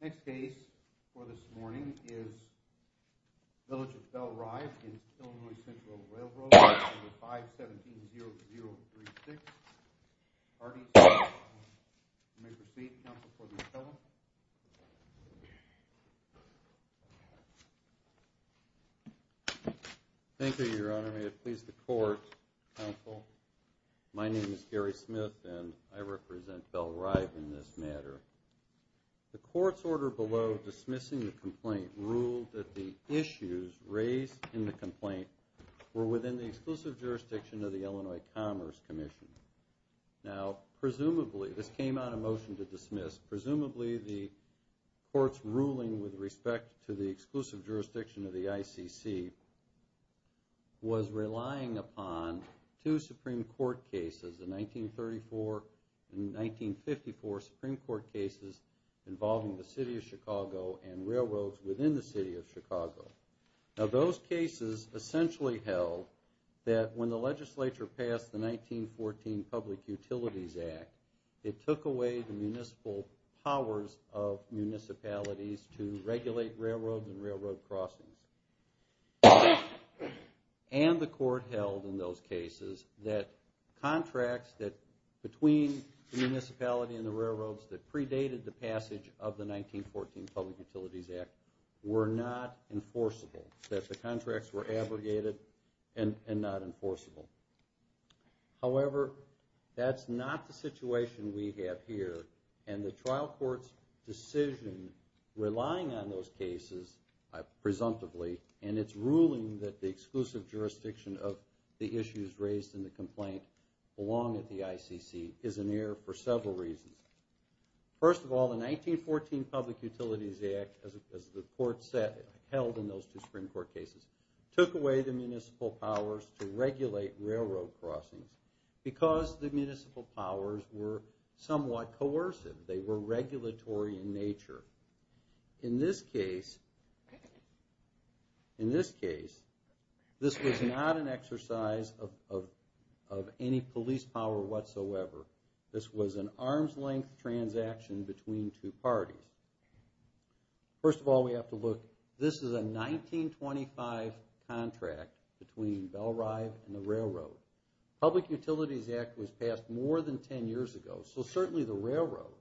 Next case for this morning is Village of Belle Rive v. Illinois Central Railroad, number 517-0036, Artie Smith. You may proceed, counsel, for the appellant. Thank you, your honor. May it please the court, counsel. My name is Gary Smith, and I represent Belle Rive in this matter. The court's order below dismissing the complaint ruled that the issues raised in the complaint were within the exclusive jurisdiction of the Illinois Commerce Commission. Now, presumably, this came out of motion to dismiss, presumably the court's ruling with respect to the exclusive jurisdiction of the ICC was relying upon two Supreme Court cases, the 1934 and 1954 Supreme Court cases involving the City of Chicago and railroads within the City of Chicago. Now, those cases essentially held that when the legislature passed the 1914 Public Utilities Act, it took away the municipal powers of municipalities to regulate railroads and railroad crossings. And the court held in those cases that contracts between the municipality and the railroads that predated the passage of the 1914 Public Utilities Act were not enforceable. That the contracts were abrogated and not enforceable. However, that's not the situation we have here, and the trial court's decision relying on those cases, presumptively, and its ruling that the exclusive jurisdiction of the issues raised in the complaint belong at the ICC is an error for several reasons. First of all, the 1914 Public Utilities Act, as the court held in those two Supreme Court cases, took away the municipal powers to regulate railroad crossings because the municipal powers were somewhat coercive. They were regulatory in nature. In this case, this was not an exercise of any police power whatsoever. This was an arm's length transaction between two parties. First of all, we have to look, this is a 1925 contract between Bell Rive and the railroad. Public Utilities Act was passed more than 10 years ago, so certainly the railroad,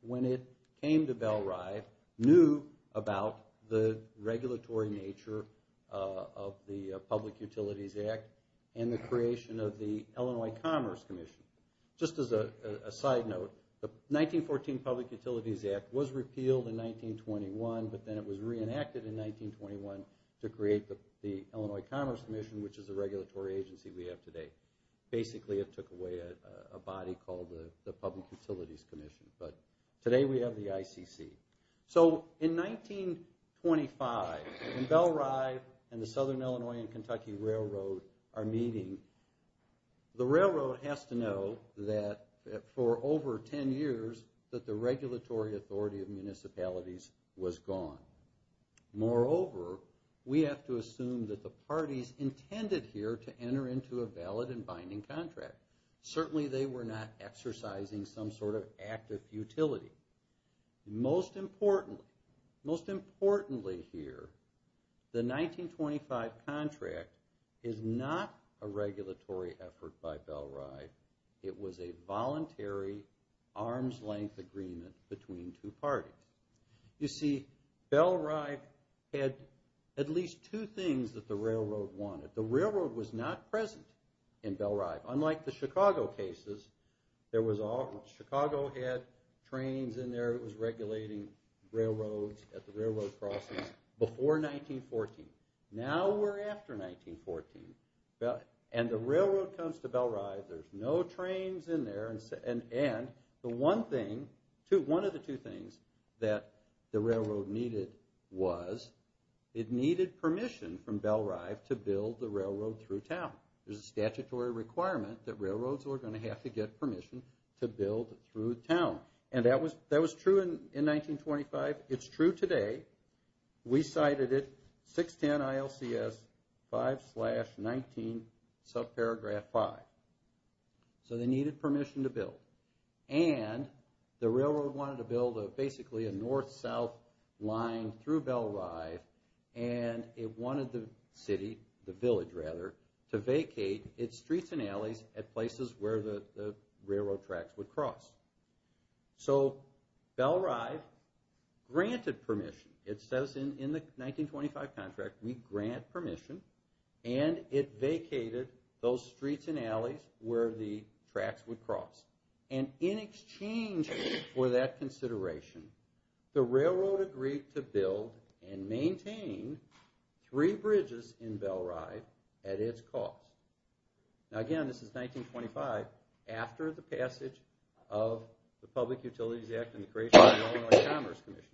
when it came to Bell Rive, knew about the regulatory nature of the Public Utilities Act and the creation of the Illinois Commerce Commission. Just as a side note, the 1914 Public Utilities Act was repealed in 1921, but then it was reenacted in 1921 to create the Illinois Commerce Commission, which is the regulatory agency we have today. Basically, it took away a body called the Public Utilities Commission, but today we have the ICC. So in 1925, when Bell Rive and the Southern Illinois and Kentucky Railroad are meeting, the railroad has to know that for over 10 years that the regulatory authority of municipalities was gone. Moreover, we have to assume that the parties intended here to enter into a valid and binding contract. Certainly they were not exercising some sort of act of futility. Most importantly here, the 1925 contract is not a regulatory effort by Bell Rive. It was a voluntary, arm's-length agreement between two parties. You see, Bell Rive had at least two things that the railroad wanted. The railroad was not present in Bell Rive, unlike the Chicago cases. Chicago had trains in there, it was regulating railroads at the railroad crossings before 1914. Now we're after 1914, and the railroad comes to Bell Rive, there's no trains in there. And one of the two things that the railroad needed was, it needed permission from Bell Rive to build the railroad through town. There's a statutory requirement that railroads are going to have to get permission to build through town. And that was true in 1925, it's true today. We cited it, 610 ILCS 5-19, subparagraph 5. So they needed permission to build. And the railroad wanted to build basically a north-south line through Bell Rive, and it wanted the city, the village rather, to vacate its streets and alleys at places where the railroad tracks would cross. So Bell Rive granted permission. It says in the 1925 contract, we grant permission, and it vacated those streets and alleys where the tracks would cross. And in exchange for that consideration, the railroad agreed to build and maintain three bridges in Bell Rive at its cost. Now again, this is 1925, after the passage of the Public Utilities Act and the creation of the Illinois Commerce Commission.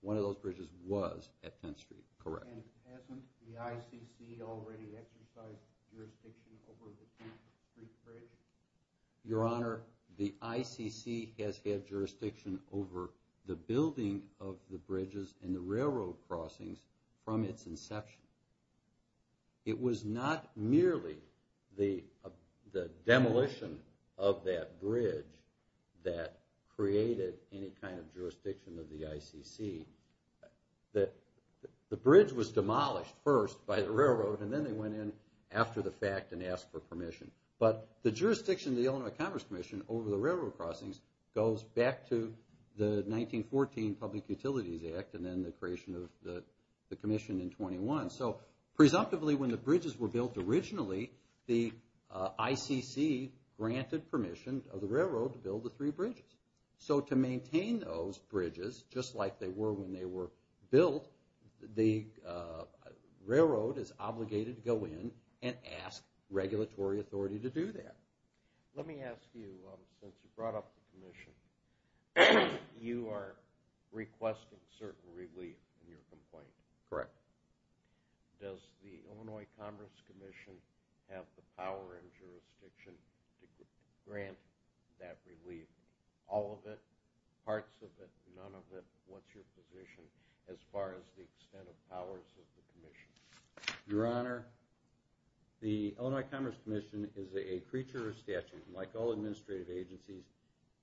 One of those bridges was at 10th Street, correct? And hasn't the ICC already exercised jurisdiction over the 10th Street Bridge? Your Honor, the ICC has had jurisdiction over the building of the bridges and the railroad crossings from its inception. It was not merely the demolition of that bridge that created any kind of jurisdiction of the ICC. The bridge was demolished first by the railroad, and then they went in after the fact and asked for permission. But the jurisdiction of the Illinois Commerce Commission over the railroad crossings goes back to the 1914 Public Utilities Act and then the creation of the commission in 1921. So presumptively, when the bridges were built originally, the ICC granted permission of the railroad to build the three bridges. So to maintain those bridges, just like they were when they were built, the railroad is obligated to go in and ask regulatory authority to do that. Let me ask you, since you brought up the commission, you are requesting certain relief in your complaint. Correct. Does the Illinois Commerce Commission have the power and jurisdiction to grant that relief? All of it? Parts of it? None of it? What's your position as far as the extent of powers of the commission? Your Honor, the Illinois Commerce Commission is a creature of statute. Like all administrative agencies,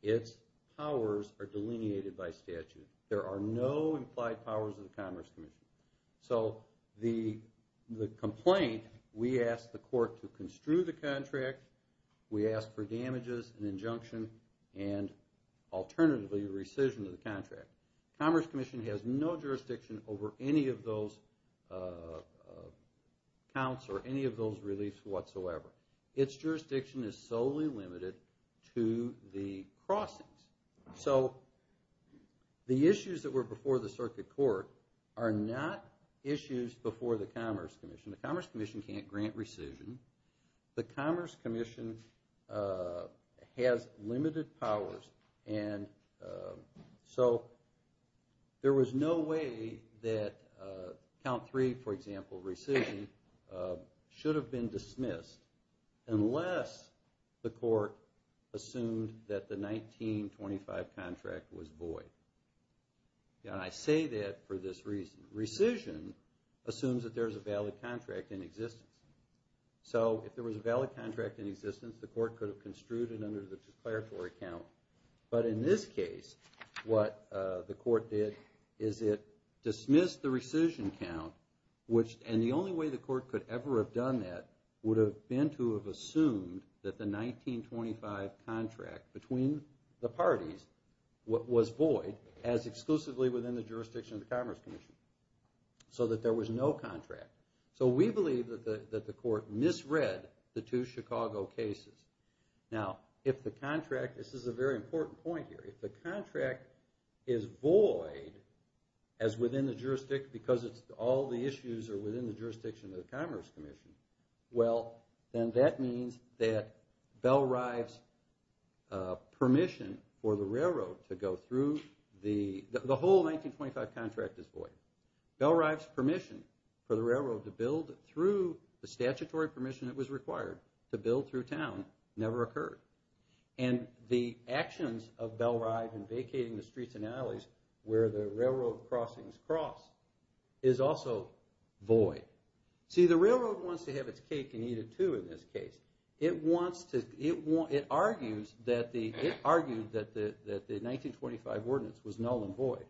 its powers are delineated by statute. There are no implied powers of the Commerce Commission. So the complaint, we ask the court to construe the contract, we ask for damages and injunction, and alternatively rescission of the contract. Commerce Commission has no jurisdiction over any of those counts or any of those reliefs whatsoever. Its jurisdiction is solely limited to the crossings. So the issues that were before the circuit court are not issues before the Commerce Commission. The Commerce Commission can't grant rescission. The Commerce Commission has limited powers, and so there was no way that count three, for example, rescission, should have been dismissed, unless the court assumed that the 1925 contract was void. And I say that for this reason. Rescission assumes that there's a valid contract in existence. So if there was a valid contract in existence, the court could have construed it under the declaratory count. But in this case, what the court did is it dismissed the rescission count, and the only way the court could ever have done that would have been to have assumed that the 1925 contract between the parties was void, as exclusively within the jurisdiction of the Commerce Commission, so that there was no contract. So we believe that the court misread the two Chicago cases. Now, if the contract, this is a very important point here, if the contract is void, as within the jurisdiction, because all the issues are within the jurisdiction of the Commerce Commission, well, then that means that Bellrive's permission for the railroad to go through, the whole 1925 contract is void. Bellrive's permission for the railroad to build through the statutory permission that was required to build through town never occurred. And the actions of Bellrive in vacating the streets and alleys where the railroad crossings cross is also void. See, the railroad wants to have its cake and eat it too in this case. It argues that the 1925 ordinance was null and void.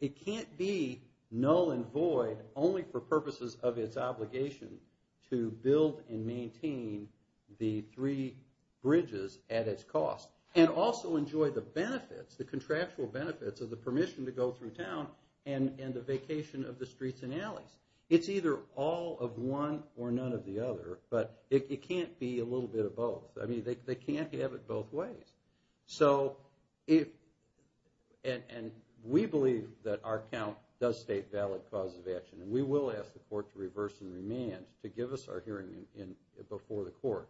It can't be null and void only for purposes of its obligation to build and maintain the three bridges at its cost, and also enjoy the benefits, the contractual benefits of the permission to go through town and the vacation of the streets and alleys. It's either all of one or none of the other, but it can't be a little bit of both. I mean, they can't have it both ways. And we believe that our count does state valid causes of action, and we will ask the court to reverse and remand to give us our hearing before the court.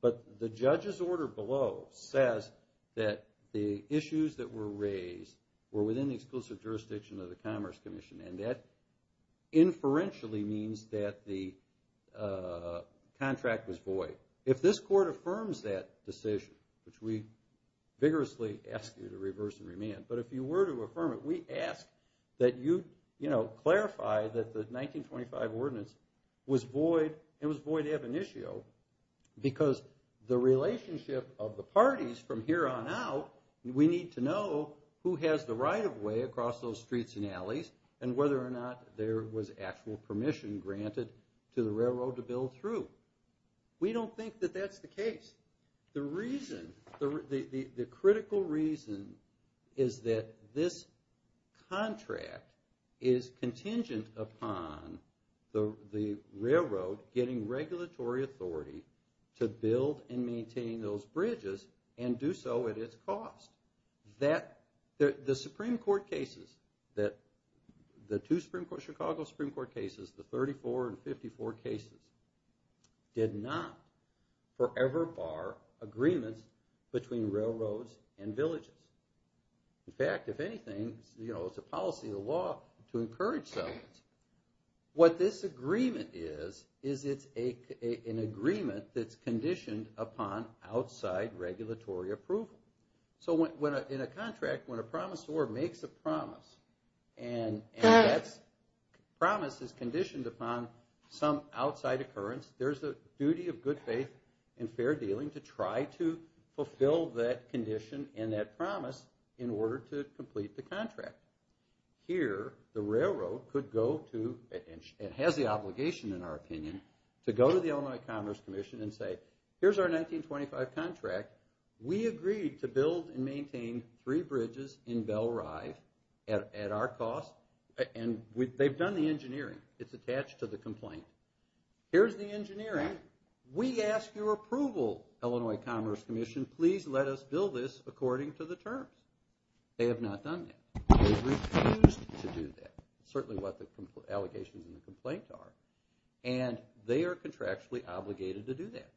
But the judge's order below says that the issues that were raised were within the exclusive jurisdiction of the Commerce Commission, and that inferentially means that the contract was void. If this court affirms that decision, which we vigorously ask you to reverse and remand, but if you were to affirm it, we ask that you clarify that the 1925 ordinance was void, and was void ab initio because the relationship of the parties from here on out, we need to know who has the right-of-way across those streets and alleys, and whether or not there was actual permission granted to the railroad to build through. We don't think that that's the case. The critical reason is that this contract is contingent upon the railroad getting regulatory authority to build and maintain those bridges, and do so at its cost. The Supreme Court cases, the two Chicago Supreme Court cases, the 34 and 54 cases, did not forever bar agreements between railroads and villages. In fact, if anything, it's a policy of the law to encourage settlements. What this agreement is, is it's an agreement that's conditioned upon outside regulatory approval. In a contract, when a promisor makes a promise, and that promise is conditioned upon some outside occurrence, there's a duty of good faith and fair dealing to try to fulfill that condition and that promise in order to complete the contract. Here, the railroad could go to, and has the obligation in our opinion, to go to the Illinois Commerce Commission and say, here's our 1925 contract. We agreed to build and maintain three bridges in Bell Rive at our cost, and they've done the engineering. It's attached to the complaint. Here's the engineering. We ask your approval, Illinois Commerce Commission. Please let us build this according to the terms. They have not done that. They refused to do that. It's certainly what the allegations in the complaint are. And they are contractually obligated to do that.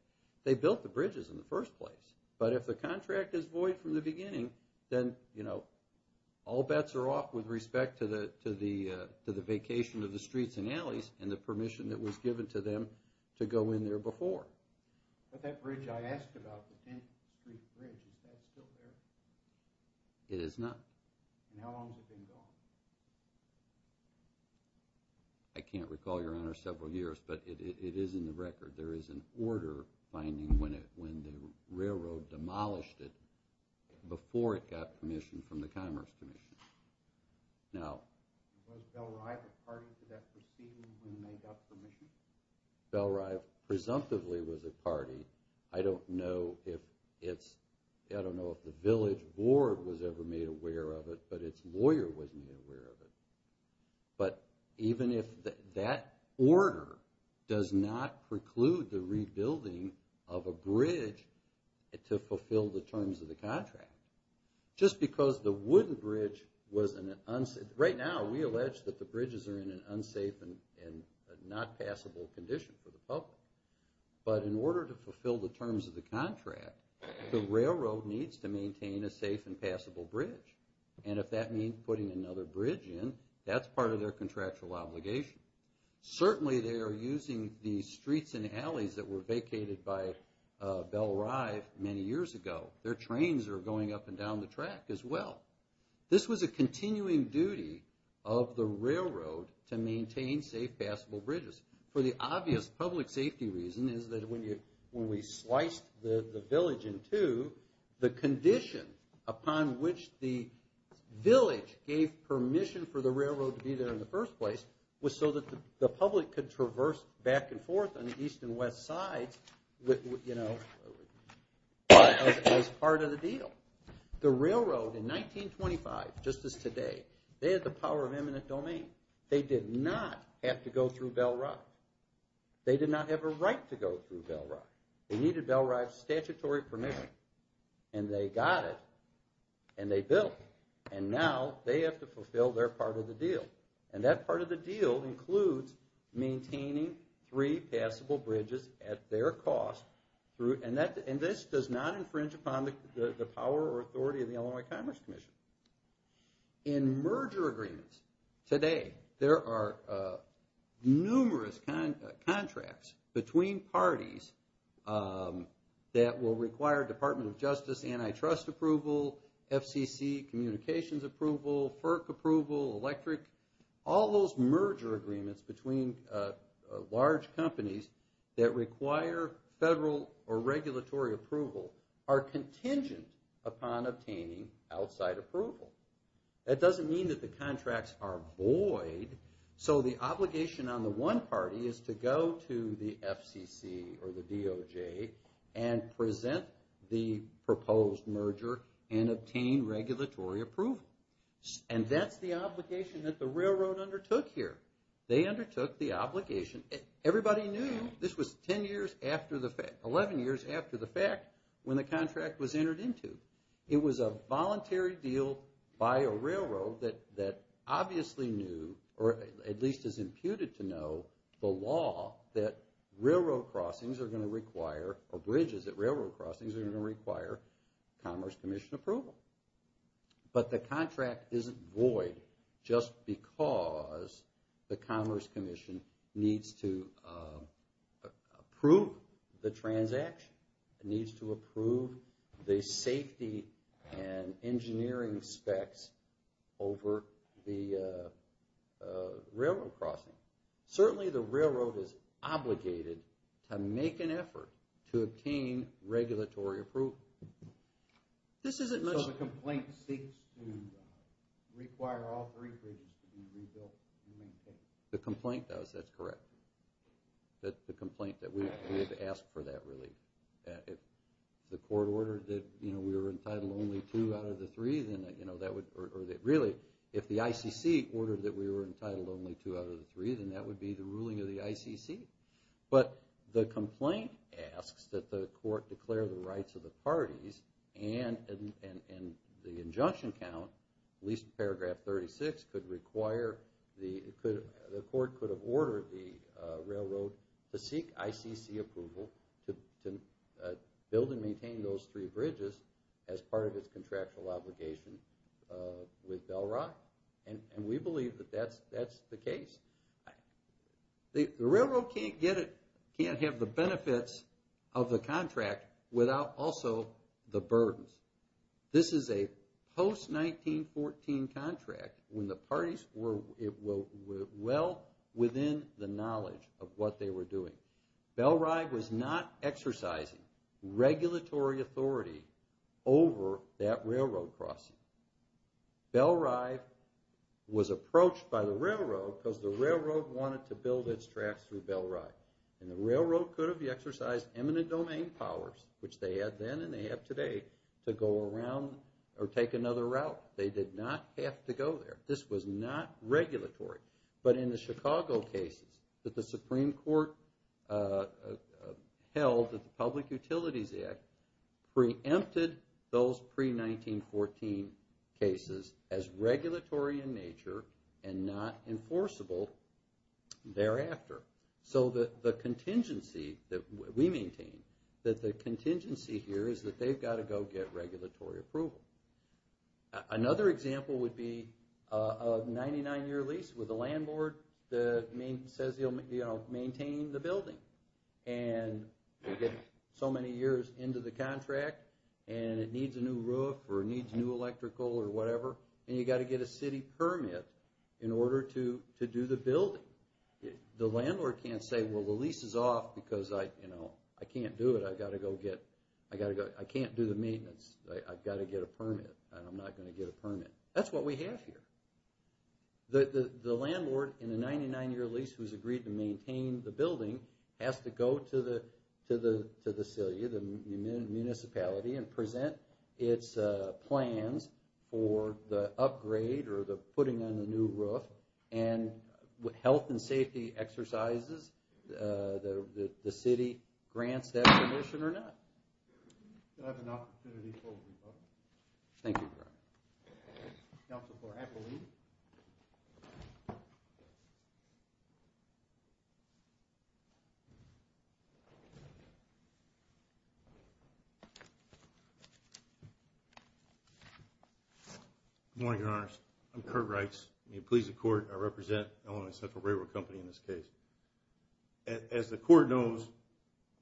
They built the bridges in the first place. But if the contract is void from the beginning, then, you know, all bets are off with respect to the vacation of the streets and alleys and the permission that was given to them to go in there before. But that bridge I asked about, the 10th Street Bridge, is that still there? It is not. And how long has it been gone? I can't recall, Your Honor, several years, but it is in the record. There is an order finding when the railroad demolished it before it got permission from the Commerce Commission. Now, was Bell Rive a party to that proceeding when they got permission? Bell Rive presumptively was a party. I don't know if the village board was ever made aware of it, but its lawyer wasn't aware of it. But even if that order does not preclude the rebuilding of a bridge to fulfill the terms of the contract, just because the wooden bridge was in an unsafe Right now we allege that the bridges are in an unsafe and not passable condition for the public. But in order to fulfill the terms of the contract, the railroad needs to maintain a safe and passable bridge. And if that means putting another bridge in, that's part of their contractual obligation. Certainly they are using the streets and alleys that were vacated by Bell Rive many years ago. Their trains are going up and down the track as well. This was a continuing duty of the railroad to maintain safe, passable bridges. For the obvious public safety reason is that when we sliced the village in two, the condition upon which the village gave permission for the railroad to be there in the first place was so that the public could traverse back and forth on the east and west sides as part of the deal. The railroad in 1925, just as today, they had the power of eminent domain. They did not have to go through Bell Rive. They did not have a right to go through Bell Rive. They needed Bell Rive statutory permission. And they got it and they built it. And now they have to fulfill their part of the deal. And that part of the deal includes maintaining three passable bridges at their cost. And this does not infringe upon the power or authority of the Illinois Commerce Commission. In merger agreements today, there are numerous contracts between parties that will require Department of Justice antitrust approval, FCC communications approval, FERC approval, electric, all those merger agreements between large companies that require federal or regulatory approval are contingent upon obtaining outside approval. That doesn't mean that the contracts are void. So the obligation on the one party is to go to the FCC or the DOJ and present the proposed merger and obtain regulatory approval. And that's the obligation that the railroad undertook here. They undertook the obligation. Everybody knew this was 10 years after the fact, 11 years after the fact, when the contract was entered into. It was a voluntary deal by a railroad that obviously knew or at least is imputed to know the law that railroad crossings are going to require or bridges at railroad crossings are going to require Commerce Commission approval. But the contract isn't void just because the Commerce Commission needs to approve the transaction. It needs to approve the safety and engineering specs over the railroad crossing. Certainly, the railroad is obligated to make an effort to obtain regulatory approval. This isn't much of a complaint. So the complaint seeks to require all three bridges to be rebuilt. The complaint does, that's correct. That's the complaint that we have asked for that relief. If the court ordered that we were entitled only two out of the three, then that would, or really, if the ICC ordered that we were entitled only two out of the three, then that would be the ruling of the ICC. But the complaint asks that the court declare the rights of the parties and the railroad to seek ICC approval to build and maintain those three bridges as part of its contractual obligation with Bell Rock. And we believe that that's the case. The railroad can't get it, can't have the benefits of the contract without also the burdens. This is a post-1914 contract when the parties were well within the knowledge of what they were doing. Bell Rock was not exercising regulatory authority over that railroad crossing. Bell Rock was approached by the railroad because the railroad wanted to build its tracks through Bell Rock. And the railroad could have exercised eminent domain powers, which they had then and they have today, to go around or take another route. They did not have to go there. This was not regulatory. But in the Chicago cases that the Supreme Court held at the Public Utilities Act preempted those pre-1914 cases as regulatory in nature and not enforceable thereafter. So the contingency that we maintain, that the contingency here is that they've got to go get regulatory approval. Another example would be a 99-year lease with a landlord that says he'll maintain the building. And you get so many years into the contract and it needs a new roof or it needs new electrical or whatever, and you've got to get a city permit in order to do the building. The landlord can't say, well, the lease is off because I can't do it. I've got to go get... I can't do the maintenance. I've got to get a permit and I'm not going to get a permit. That's what we have here. The landlord in a 99-year lease who's agreed to maintain the building has to go to the city, the municipality, and present its plans for the upgrade or the putting in a new roof. And with health and safety exercises, the city grants that permission or not. Do I have an opportunity for a rebuttal? Thank you, Brian. Counsel for Appleby. Good morning, Your Honors. I'm Curt Reitz. I'm going to please the Court. I represent Illinois Central Railroad Company in this case. As the Court knows,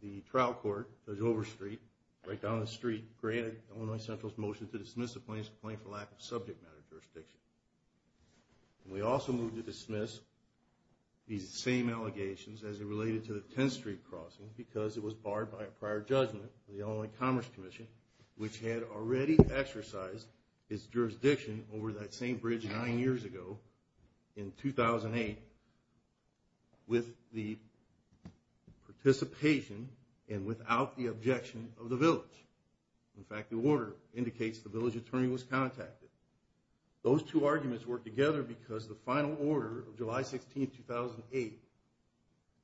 the trial court, Dojova Street, right down the street, granted Illinois Central's motion to dismiss the plaintiff's claim for lack of subject matter jurisdiction. And we also moved to dismiss these same allegations as it related to the 10th Street crossing because it was barred by a prior judgment of the Illinois Commerce Commission, which had already exercised its jurisdiction over that same bridge nine years ago in 2008 with the participation and without the objection of the village. In fact, the order indicates the village attorney was contacted. Those two arguments work together because the final order of July 16, 2008,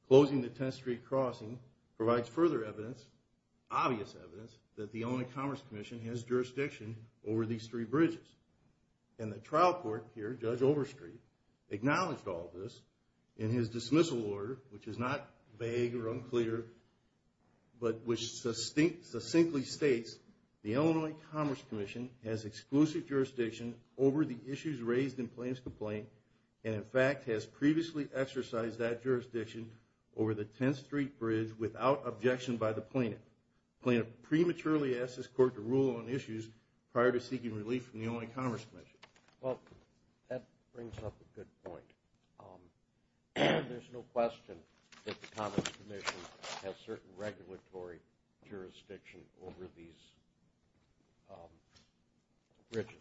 closing the 10th Street crossing, provides further evidence, obvious evidence, that the Illinois Commerce Commission has jurisdiction over these three bridges. And the trial court here, Judge Overstreet, acknowledged all of this in his dismissal order, which is not vague or unclear, but which succinctly states the Illinois Commerce Commission has exclusive jurisdiction over the issues raised in plaintiff's complaint and, in fact, has previously exercised that jurisdiction over the 10th Street bridge without objection by the plaintiff. The plaintiff prematurely asked his court to rule on issues prior to seeking relief from the Illinois Commerce Commission. Well, that brings up a good point. There's no question that the Commerce Commission has certain regulatory jurisdiction over these bridges.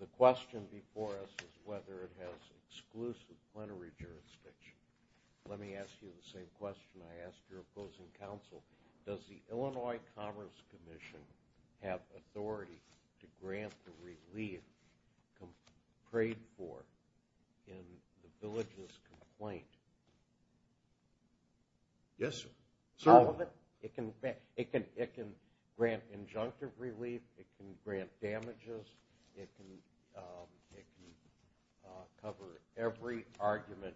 The question before us is whether it has exclusive plenary jurisdiction. Let me ask you the same question I asked your opposing counsel. Does the Illinois Commerce Commission have authority to grant the relief prayed for in the village's complaint? Yes, sir. All of it? It can grant injunctive relief. It can grant damages. It can cover every argument.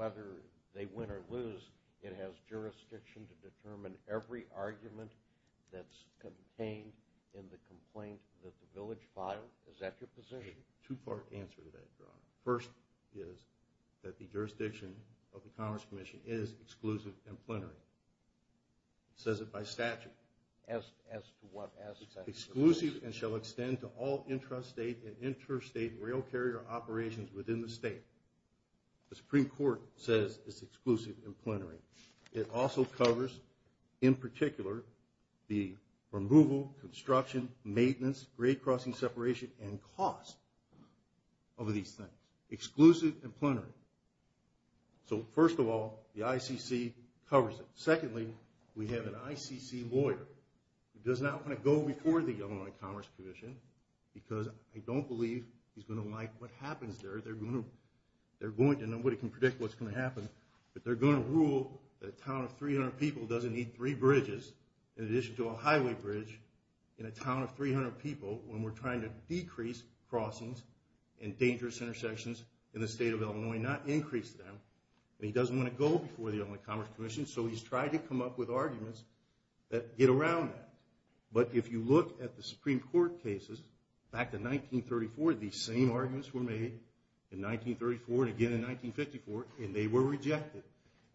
Whether they win or lose, it has jurisdiction to determine every argument that's contained in the complaint that the village filed. Is that your position? Two-part answer to that, John. First is that the jurisdiction of the Commerce Commission is exclusive and plenary. It says it by statute. As to what? Exclusive and shall extend to all intrastate and interstate rail carrier operations within the state. The Supreme Court says it's exclusive and plenary. It also covers, in particular, the removal, construction, maintenance, grade crossing separation, and cost of these things. Exclusive and plenary. So, first of all, the ICC covers it. Secondly, we have an ICC lawyer who does not want to go before the Illinois Commerce Commission because I don't believe he's going to like what happens there. They're going to. Nobody can predict what's going to happen. But they're going to rule that a town of 300 people doesn't need three bridges in addition to a highway bridge in a town of 300 people when we're trying to decrease crossings and dangerous intersections in the state of Illinois, not increase them. And he doesn't want to go before the Illinois Commerce Commission, so he's tried to come up with arguments that get around that. But if you look at the Supreme Court cases back in 1934, these same arguments were made in 1934 and again in 1954, and they were rejected.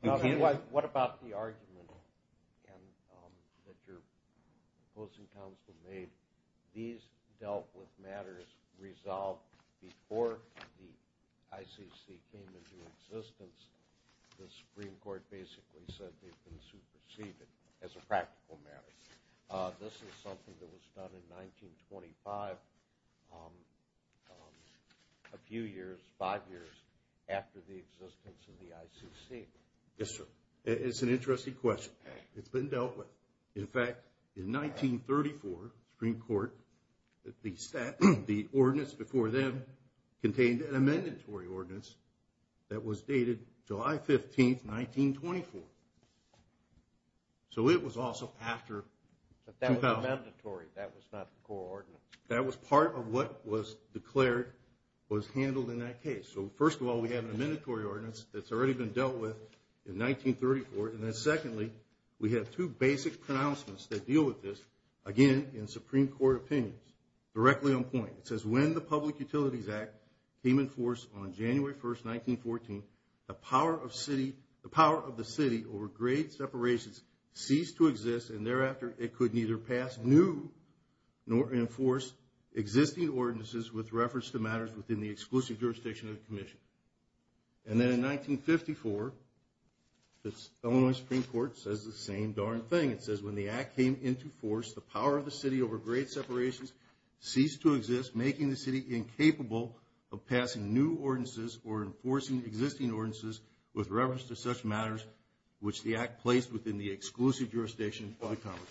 What about the argument that your opposing counsel made? These dealt with matters resolved before the ICC came into existence. The Supreme Court basically said they've been superseded as a practical matter. This is something that was done in 1925, a few years, five years after the existence of the ICC. Yes, sir. It's an interesting question. It's been dealt with. In fact, in 1934, Supreme Court, the ordinance before them contained an amendment to our ordinance that was dated July 15th, 1924. So it was also after 2000. But that was mandatory. That was not the core ordinance. That was part of what was declared was handled in that case. So, first of all, we have an amendment to our ordinance that's already been dealt with in 1934. And then secondly, we have two basic pronouncements that deal with this, again, in Supreme Court opinions, directly on point. It says when the Public Utilities Act came in force on January 1st, 1914, the power of the city over grade separations ceased to exist, and thereafter it could neither pass new nor enforce existing ordinances with reference to matters within the exclusive jurisdiction of the commission. And then in 1954, the Illinois Supreme Court says the same darn thing. It says when the act came into force, the power of the city over grade separations ceased to exist, making the city incapable of passing new ordinances or enforcing existing ordinances with reference to such matters which the act placed within the exclusive jurisdiction of the commission.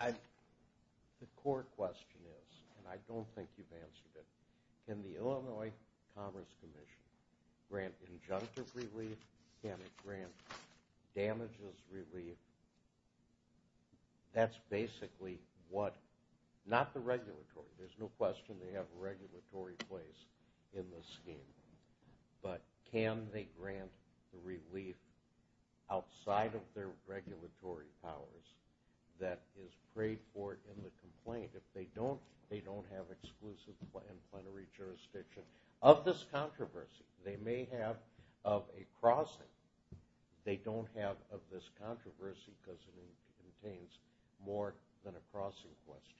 The core question is, and I don't think you've answered it, can the Illinois Commerce Commission grant injunctive relief? Can it grant damages relief? That's basically what, not the regulatory. There's no question they have a regulatory place in the scheme. But can they grant relief outside of their regulatory powers that is prayed for in the complaint? If they don't, they don't have exclusive and plenary jurisdiction. Of this controversy, they may have of a crossing. They don't have of this controversy because it contains more than a crossing question.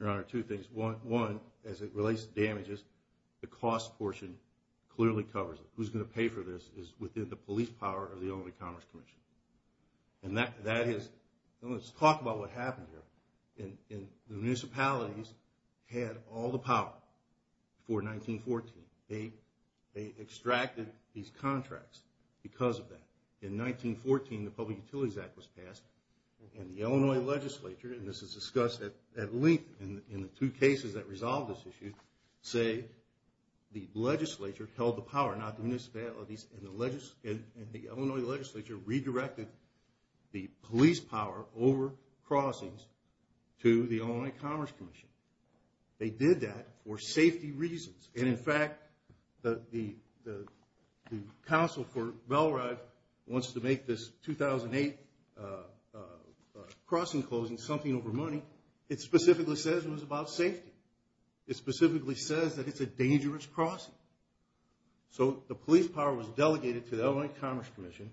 Your Honor, two things. One, as it relates to damages, the cost portion clearly covers it. Who's going to pay for this is within the police power of the Illinois Commerce Commission. And that is, let's talk about what happened here. The municipalities had all the power before 1914. They extracted these contracts because of that. In 1914, the Public Utilities Act was passed, and the Illinois legislature, and this is discussed at length in the two cases that resolve this issue, say the legislature held the power, not the municipalities, and the Illinois legislature redirected the police power over crossings to the Illinois Commerce Commission. They did that for safety reasons. And, in fact, the counsel for Bellride wants to make this 2008 crossing closing something over money. It specifically says it was about safety. It specifically says that it's a dangerous crossing. So the police power was delegated to the Illinois Commerce Commission,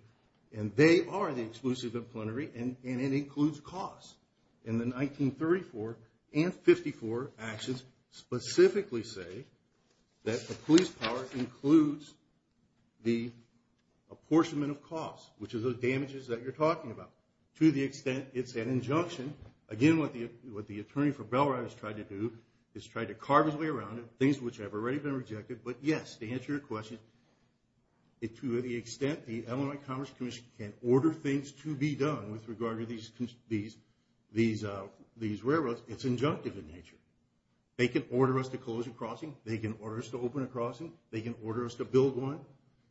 and they are the exclusive and plenary, and it includes costs. In the 1934 and 54 actions, specifically say that the police power includes the apportionment of costs, which is the damages that you're talking about. To the extent it's an injunction, again, what the attorney for Bellride has tried to do is try to carve his way around it, things which have already been rejected. But, yes, to answer your question, to the extent the Illinois Commerce Commission can order things to be done with regard to these railroads, it's injunctive in nature. They can order us to close a crossing. They can order us to open a crossing. They can order us to build one.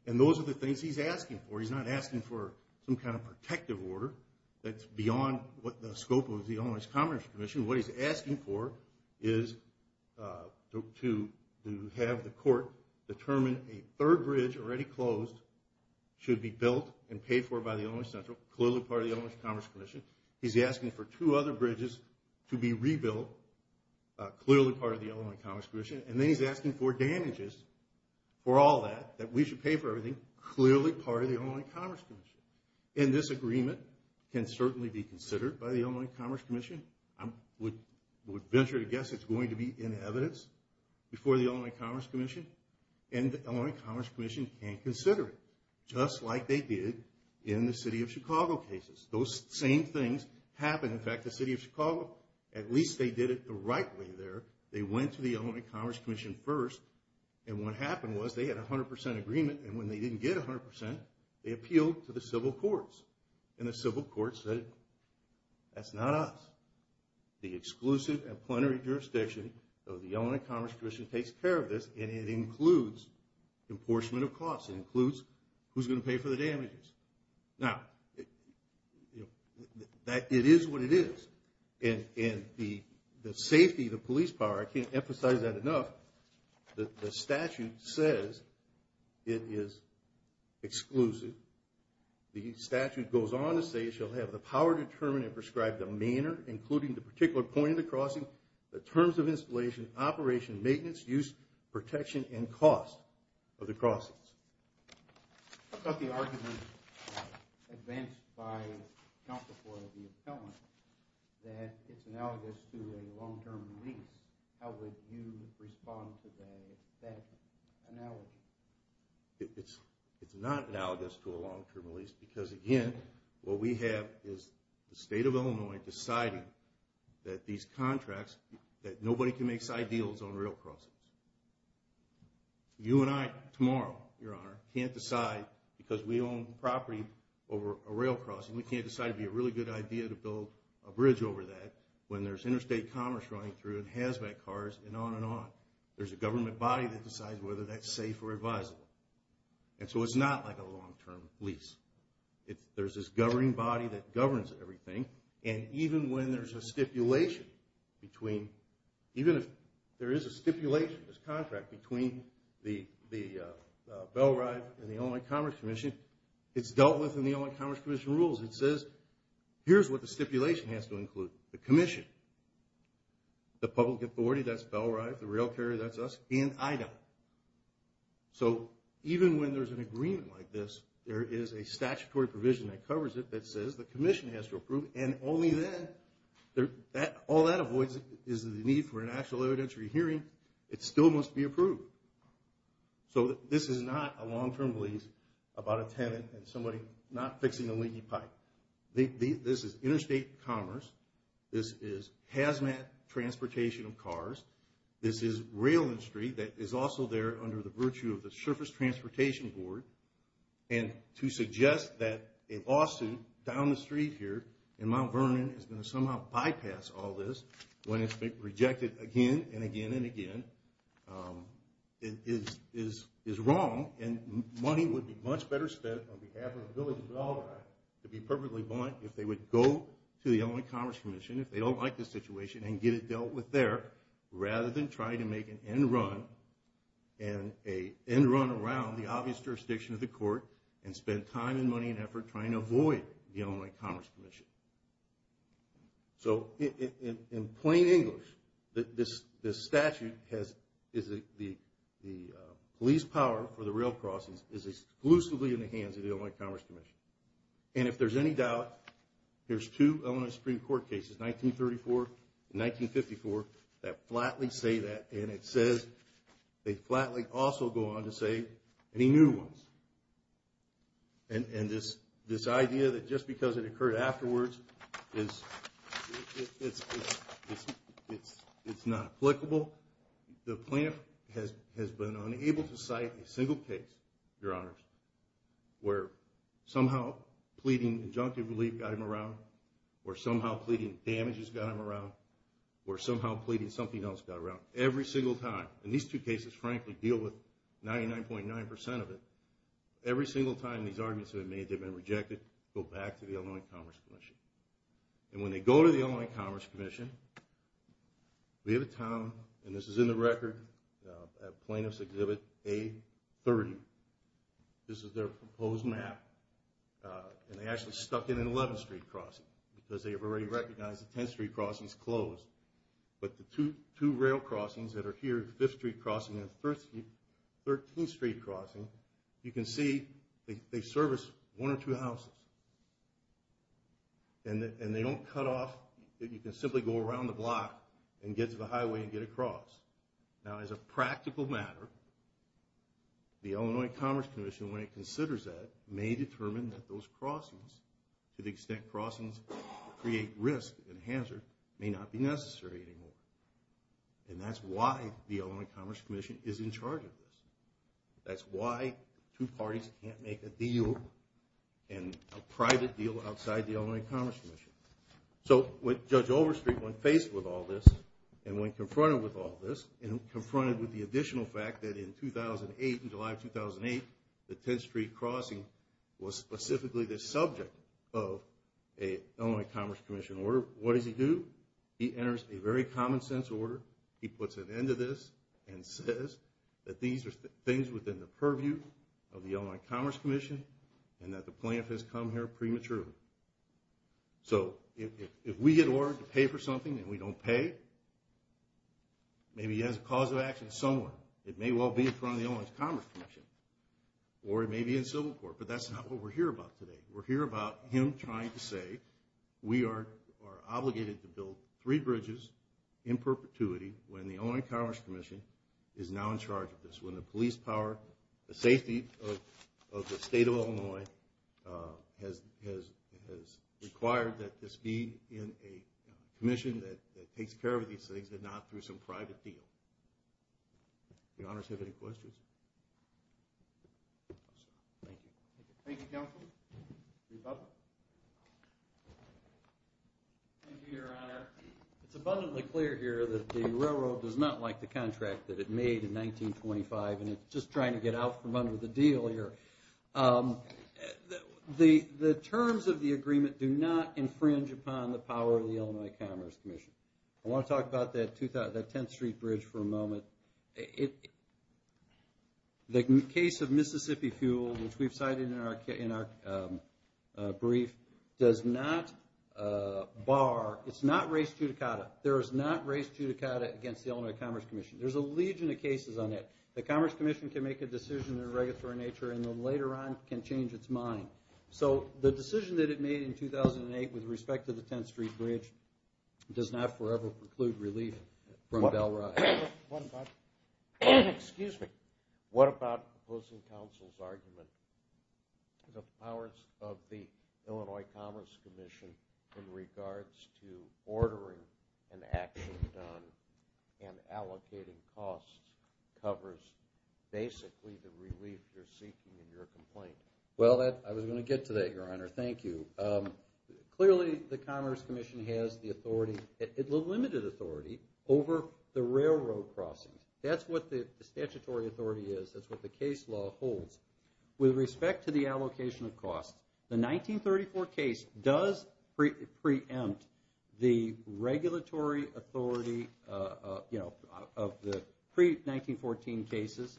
And those are the things he's asking for. He's not asking for some kind of protective order that's beyond what the scope of the Illinois Commerce Commission. What he's asking for is to have the court determine a third bridge already closed should be built and paid for by the Illinois Central, clearly part of the Illinois Commerce Commission. He's asking for two other bridges to be rebuilt, clearly part of the Illinois Commerce Commission. And then he's asking for damages for all that, that we should pay for everything, clearly part of the Illinois Commerce Commission. And this agreement can certainly be considered by the Illinois Commerce Commission. I would venture to guess it's going to be in evidence before the Illinois Commerce Commission. And the Illinois Commerce Commission can consider it, just like they did in the City of Chicago cases. Those same things happened. In fact, the City of Chicago, at least they did it the right way there. They went to the Illinois Commerce Commission first, and what happened was they had a 100% agreement. And when they didn't get 100%, they appealed to the civil courts. And the civil courts said, that's not us. The exclusive and plenary jurisdiction of the Illinois Commerce Commission takes care of this, and it includes apportionment of costs. It includes who's going to pay for the damages. Now, it is what it is. And the safety of the police power, I can't emphasize that enough, the statute says it is exclusive. The statute goes on to say it shall have the power to determine and prescribe the manner, including the particular point of the crossing, the terms of installation, operation, maintenance, use, protection, and cost of the crossings. I thought the argument advanced by counsel for the appellant, that it's analogous to a long-term lease. How would you respond to that analogy? It's not analogous to a long-term lease because, again, what we have is the State of Illinois deciding that these contracts, that nobody can make side deals on rail crossings. You and I tomorrow, Your Honor, can't decide, because we own property over a rail crossing, we can't decide it would be a really good idea to build a bridge over that when there's interstate commerce running through it, and hazmat cars, and on and on. There's a government body that decides whether that's safe or advisable. And so it's not like a long-term lease. There's this governing body that governs everything, and even when there's a stipulation between, even if there is a stipulation, this contract, between the Bell Rive and the Illinois Commerce Commission, it's dealt with in the Illinois Commerce Commission rules. It says, here's what the stipulation has to include. The commission, the public authority, that's Bell Rive, the rail carrier, that's us, and I don't. So even when there's an agreement like this, there is a statutory provision that covers it that says the commission has to approve, and only then, all that avoids is the need for an actual evidentiary hearing. It still must be approved. So this is not a long-term lease about a tenant and somebody not fixing a leaky pipe. This is interstate commerce. This is hazmat transportation of cars. This is rail industry that is also there under the virtue of the Surface Transportation Board. And to suggest that a lawsuit down the street here in Mount Vernon is going to somehow bypass all this when it's been rejected again and again and again is wrong, and money would be much better spent on behalf of the village of Bell Rive to be perfectly blunt if they would go to the Illinois Commerce Commission if they don't like the situation and get it dealt with there rather than try to make an end run, and an end run around the obvious jurisdiction of the court and spend time and money and effort trying to avoid the Illinois Commerce Commission. So in plain English, this statute, the police power for the rail crossings is exclusively in the hands of the Illinois Commerce Commission. And if there's any doubt, there's two Illinois Supreme Court cases, 1934 and 1954, that flatly say that, and it says they flatly also go on to say any new ones. And this idea that just because it occurred afterwards is not applicable, the plaintiff has been unable to cite a single case, Your Honors, where somehow pleading injunctive relief got him around, or somehow pleading damages got him around, or somehow pleading something else got him around, every single time, and these two cases frankly deal with 99.9% of it, every single time these arguments have been made, they've been rejected, go back to the Illinois Commerce Commission. And when they go to the Illinois Commerce Commission, we have a town, and this is in the record, at Plaintiff's Exhibit A30, this is their proposed map, and they actually stuck in an 11th Street crossing, because they have already recognized the 10th Street crossing is closed, but the two rail crossings that are here, the 5th Street crossing and the 13th Street crossing, you can see they service one or two houses, and they don't cut off, you can simply go around the block and get to the highway and get across. Now as a practical matter, the Illinois Commerce Commission, when it considers that, may determine that those crossings, to the extent crossings create risk and hazard, may not be necessary anymore. And that's why the Illinois Commerce Commission is in charge of this. That's why two parties can't make a deal, and a private deal outside the Illinois Commerce Commission. So when Judge Overstreet went faced with all this, and went confronted with all this, and confronted with the additional fact that in 2008, in July of 2008, the 10th Street crossing was specifically the subject of an Illinois Commerce Commission order, what does he do? He enters a very common sense order, he puts an end to this, and says that these are things within the purview of the Illinois Commerce Commission, and that the plaintiff has come here prematurely. So if we get ordered to pay for something and we don't pay, maybe he has a cause of action somewhere. It may well be in front of the Illinois Commerce Commission, or it may be in civil court, but that's not what we're here about today. We're here about him trying to say, we are obligated to build three bridges in perpetuity when the Illinois Commerce Commission is now in charge of this. When the police power, the safety of the state of Illinois has required that this be in a commission that takes care of these things, rather than through some private deal. Do the honors have any questions? Thank you. Thank you, Counsel. Thank you, Your Honor. It's abundantly clear here that the railroad does not like the contract that it made in 1925, and it's just trying to get out from under the deal here. The terms of the agreement do not infringe upon the power of the Illinois Commerce Commission. I want to talk about that 10th Street Bridge for a moment. The case of Mississippi Fuel, which we've cited in our brief, does not bar, it's not race judicata. There is not race judicata against the Illinois Commerce Commission. There's a legion of cases on it. The Commerce Commission can make a decision in a regulatory nature, and then later on can change its mind. The decision that it made in 2008 with respect to the 10th Street Bridge does not forever preclude relief from Bell Ride. Excuse me. What about the opposing counsel's argument that the powers of the Illinois Commerce Commission in regards to ordering an action done and allocating costs covers basically the relief you're seeking in your complaint? Well, I was going to get to that, Your Honor. Thank you. Clearly, the Commerce Commission has the limited authority over the railroad crossings. That's what the statutory authority is. That's what the case law holds. With respect to the allocation of costs, the 1934 case does preempt the regulatory authority of the pre-1914 cases,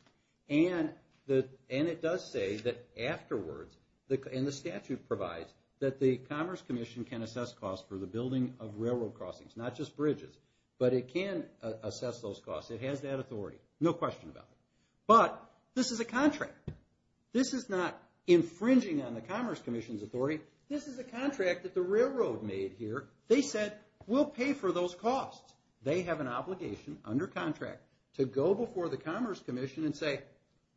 and it does say that afterwards, and the statute provides, that the Commerce Commission can assess costs for the building of railroad crossings, not just bridges. But it can assess those costs. It has that authority, no question about it. But this is a contract. This is not infringing on the Commerce Commission's authority. This is a contract that the railroad made here. They said, we'll pay for those costs. They have an obligation under contract to go before the Commerce Commission and say,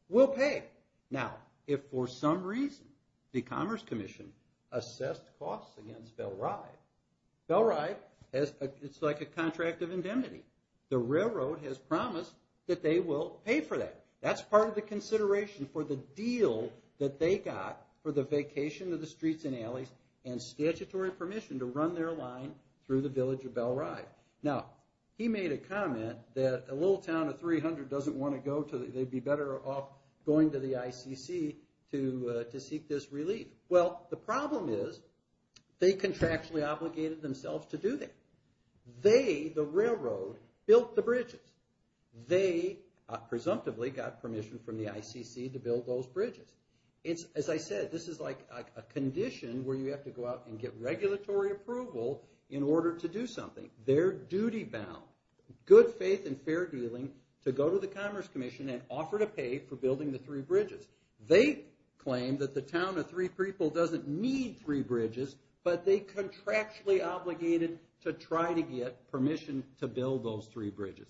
we'll pay. Now, if for some reason the Commerce Commission assessed costs against Bell Ride, Bell Ride, it's like a contract of indemnity. The railroad has promised that they will pay for that. That's part of the consideration for the deal that they got for the vacation of the streets and alleys and statutory permission to run their line through the village of Bell Ride. Now, he made a comment that a little town of 300 doesn't want to go, they'd be better off going to the ICC to seek this relief. Well, the problem is, they contractually obligated themselves to do that. They, the railroad, built the bridges. They, presumptively, got permission from the ICC to build those bridges. As I said, this is like a condition where you have to go out and get regulatory approval in order to do something. They're duty bound, good faith and fair dealing to go to the Commerce Commission and offer to pay for building the three bridges. They claim that the town of 300 doesn't need three bridges, but they contractually obligated to try to get permission to build those three bridges.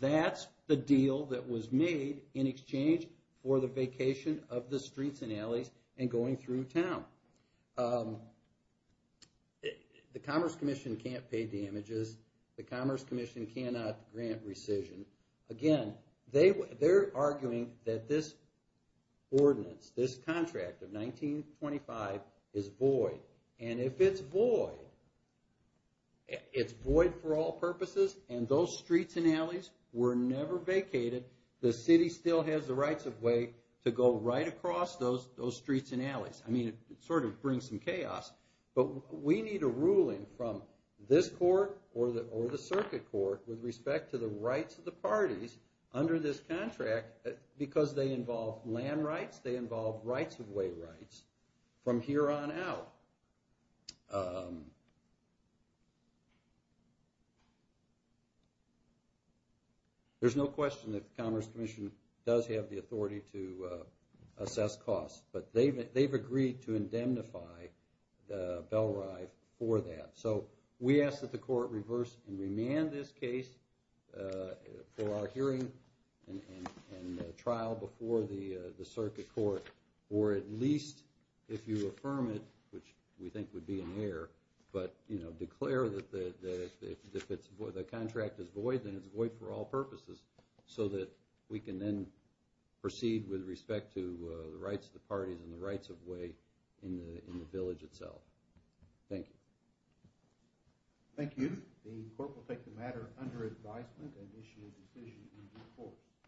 That's the deal that was made in exchange for the vacation of the streets and alleys and going through town. The Commerce Commission can't pay damages. The Commerce Commission cannot grant rescission. Again, they're arguing that this ordinance, this contract of 1925 is void. If it's void, it's void for all purposes. Those streets and alleys were never vacated. The city still has the rights of way to go right across those streets and alleys. It brings some chaos, but we need a ruling from this court or the circuit court with respect to the rights of the parties under this contract because they involve land rights, they involve rights of way rights from here on out. There's no question that the Commerce Commission does have the authority to assess costs, but they've agreed to indemnify Bellrive for that. We ask that the court reverse and remand this case for our hearing and trial before the circuit court or at least, if you affirm it, which we think would be in error, but declare that the contract is void then it's void for all purposes so that we can then proceed with respect to the rights of the parties and the rights of way in the village itself. Thank you. Thank you. The court will take the matter under advisement and issue a decision in due course.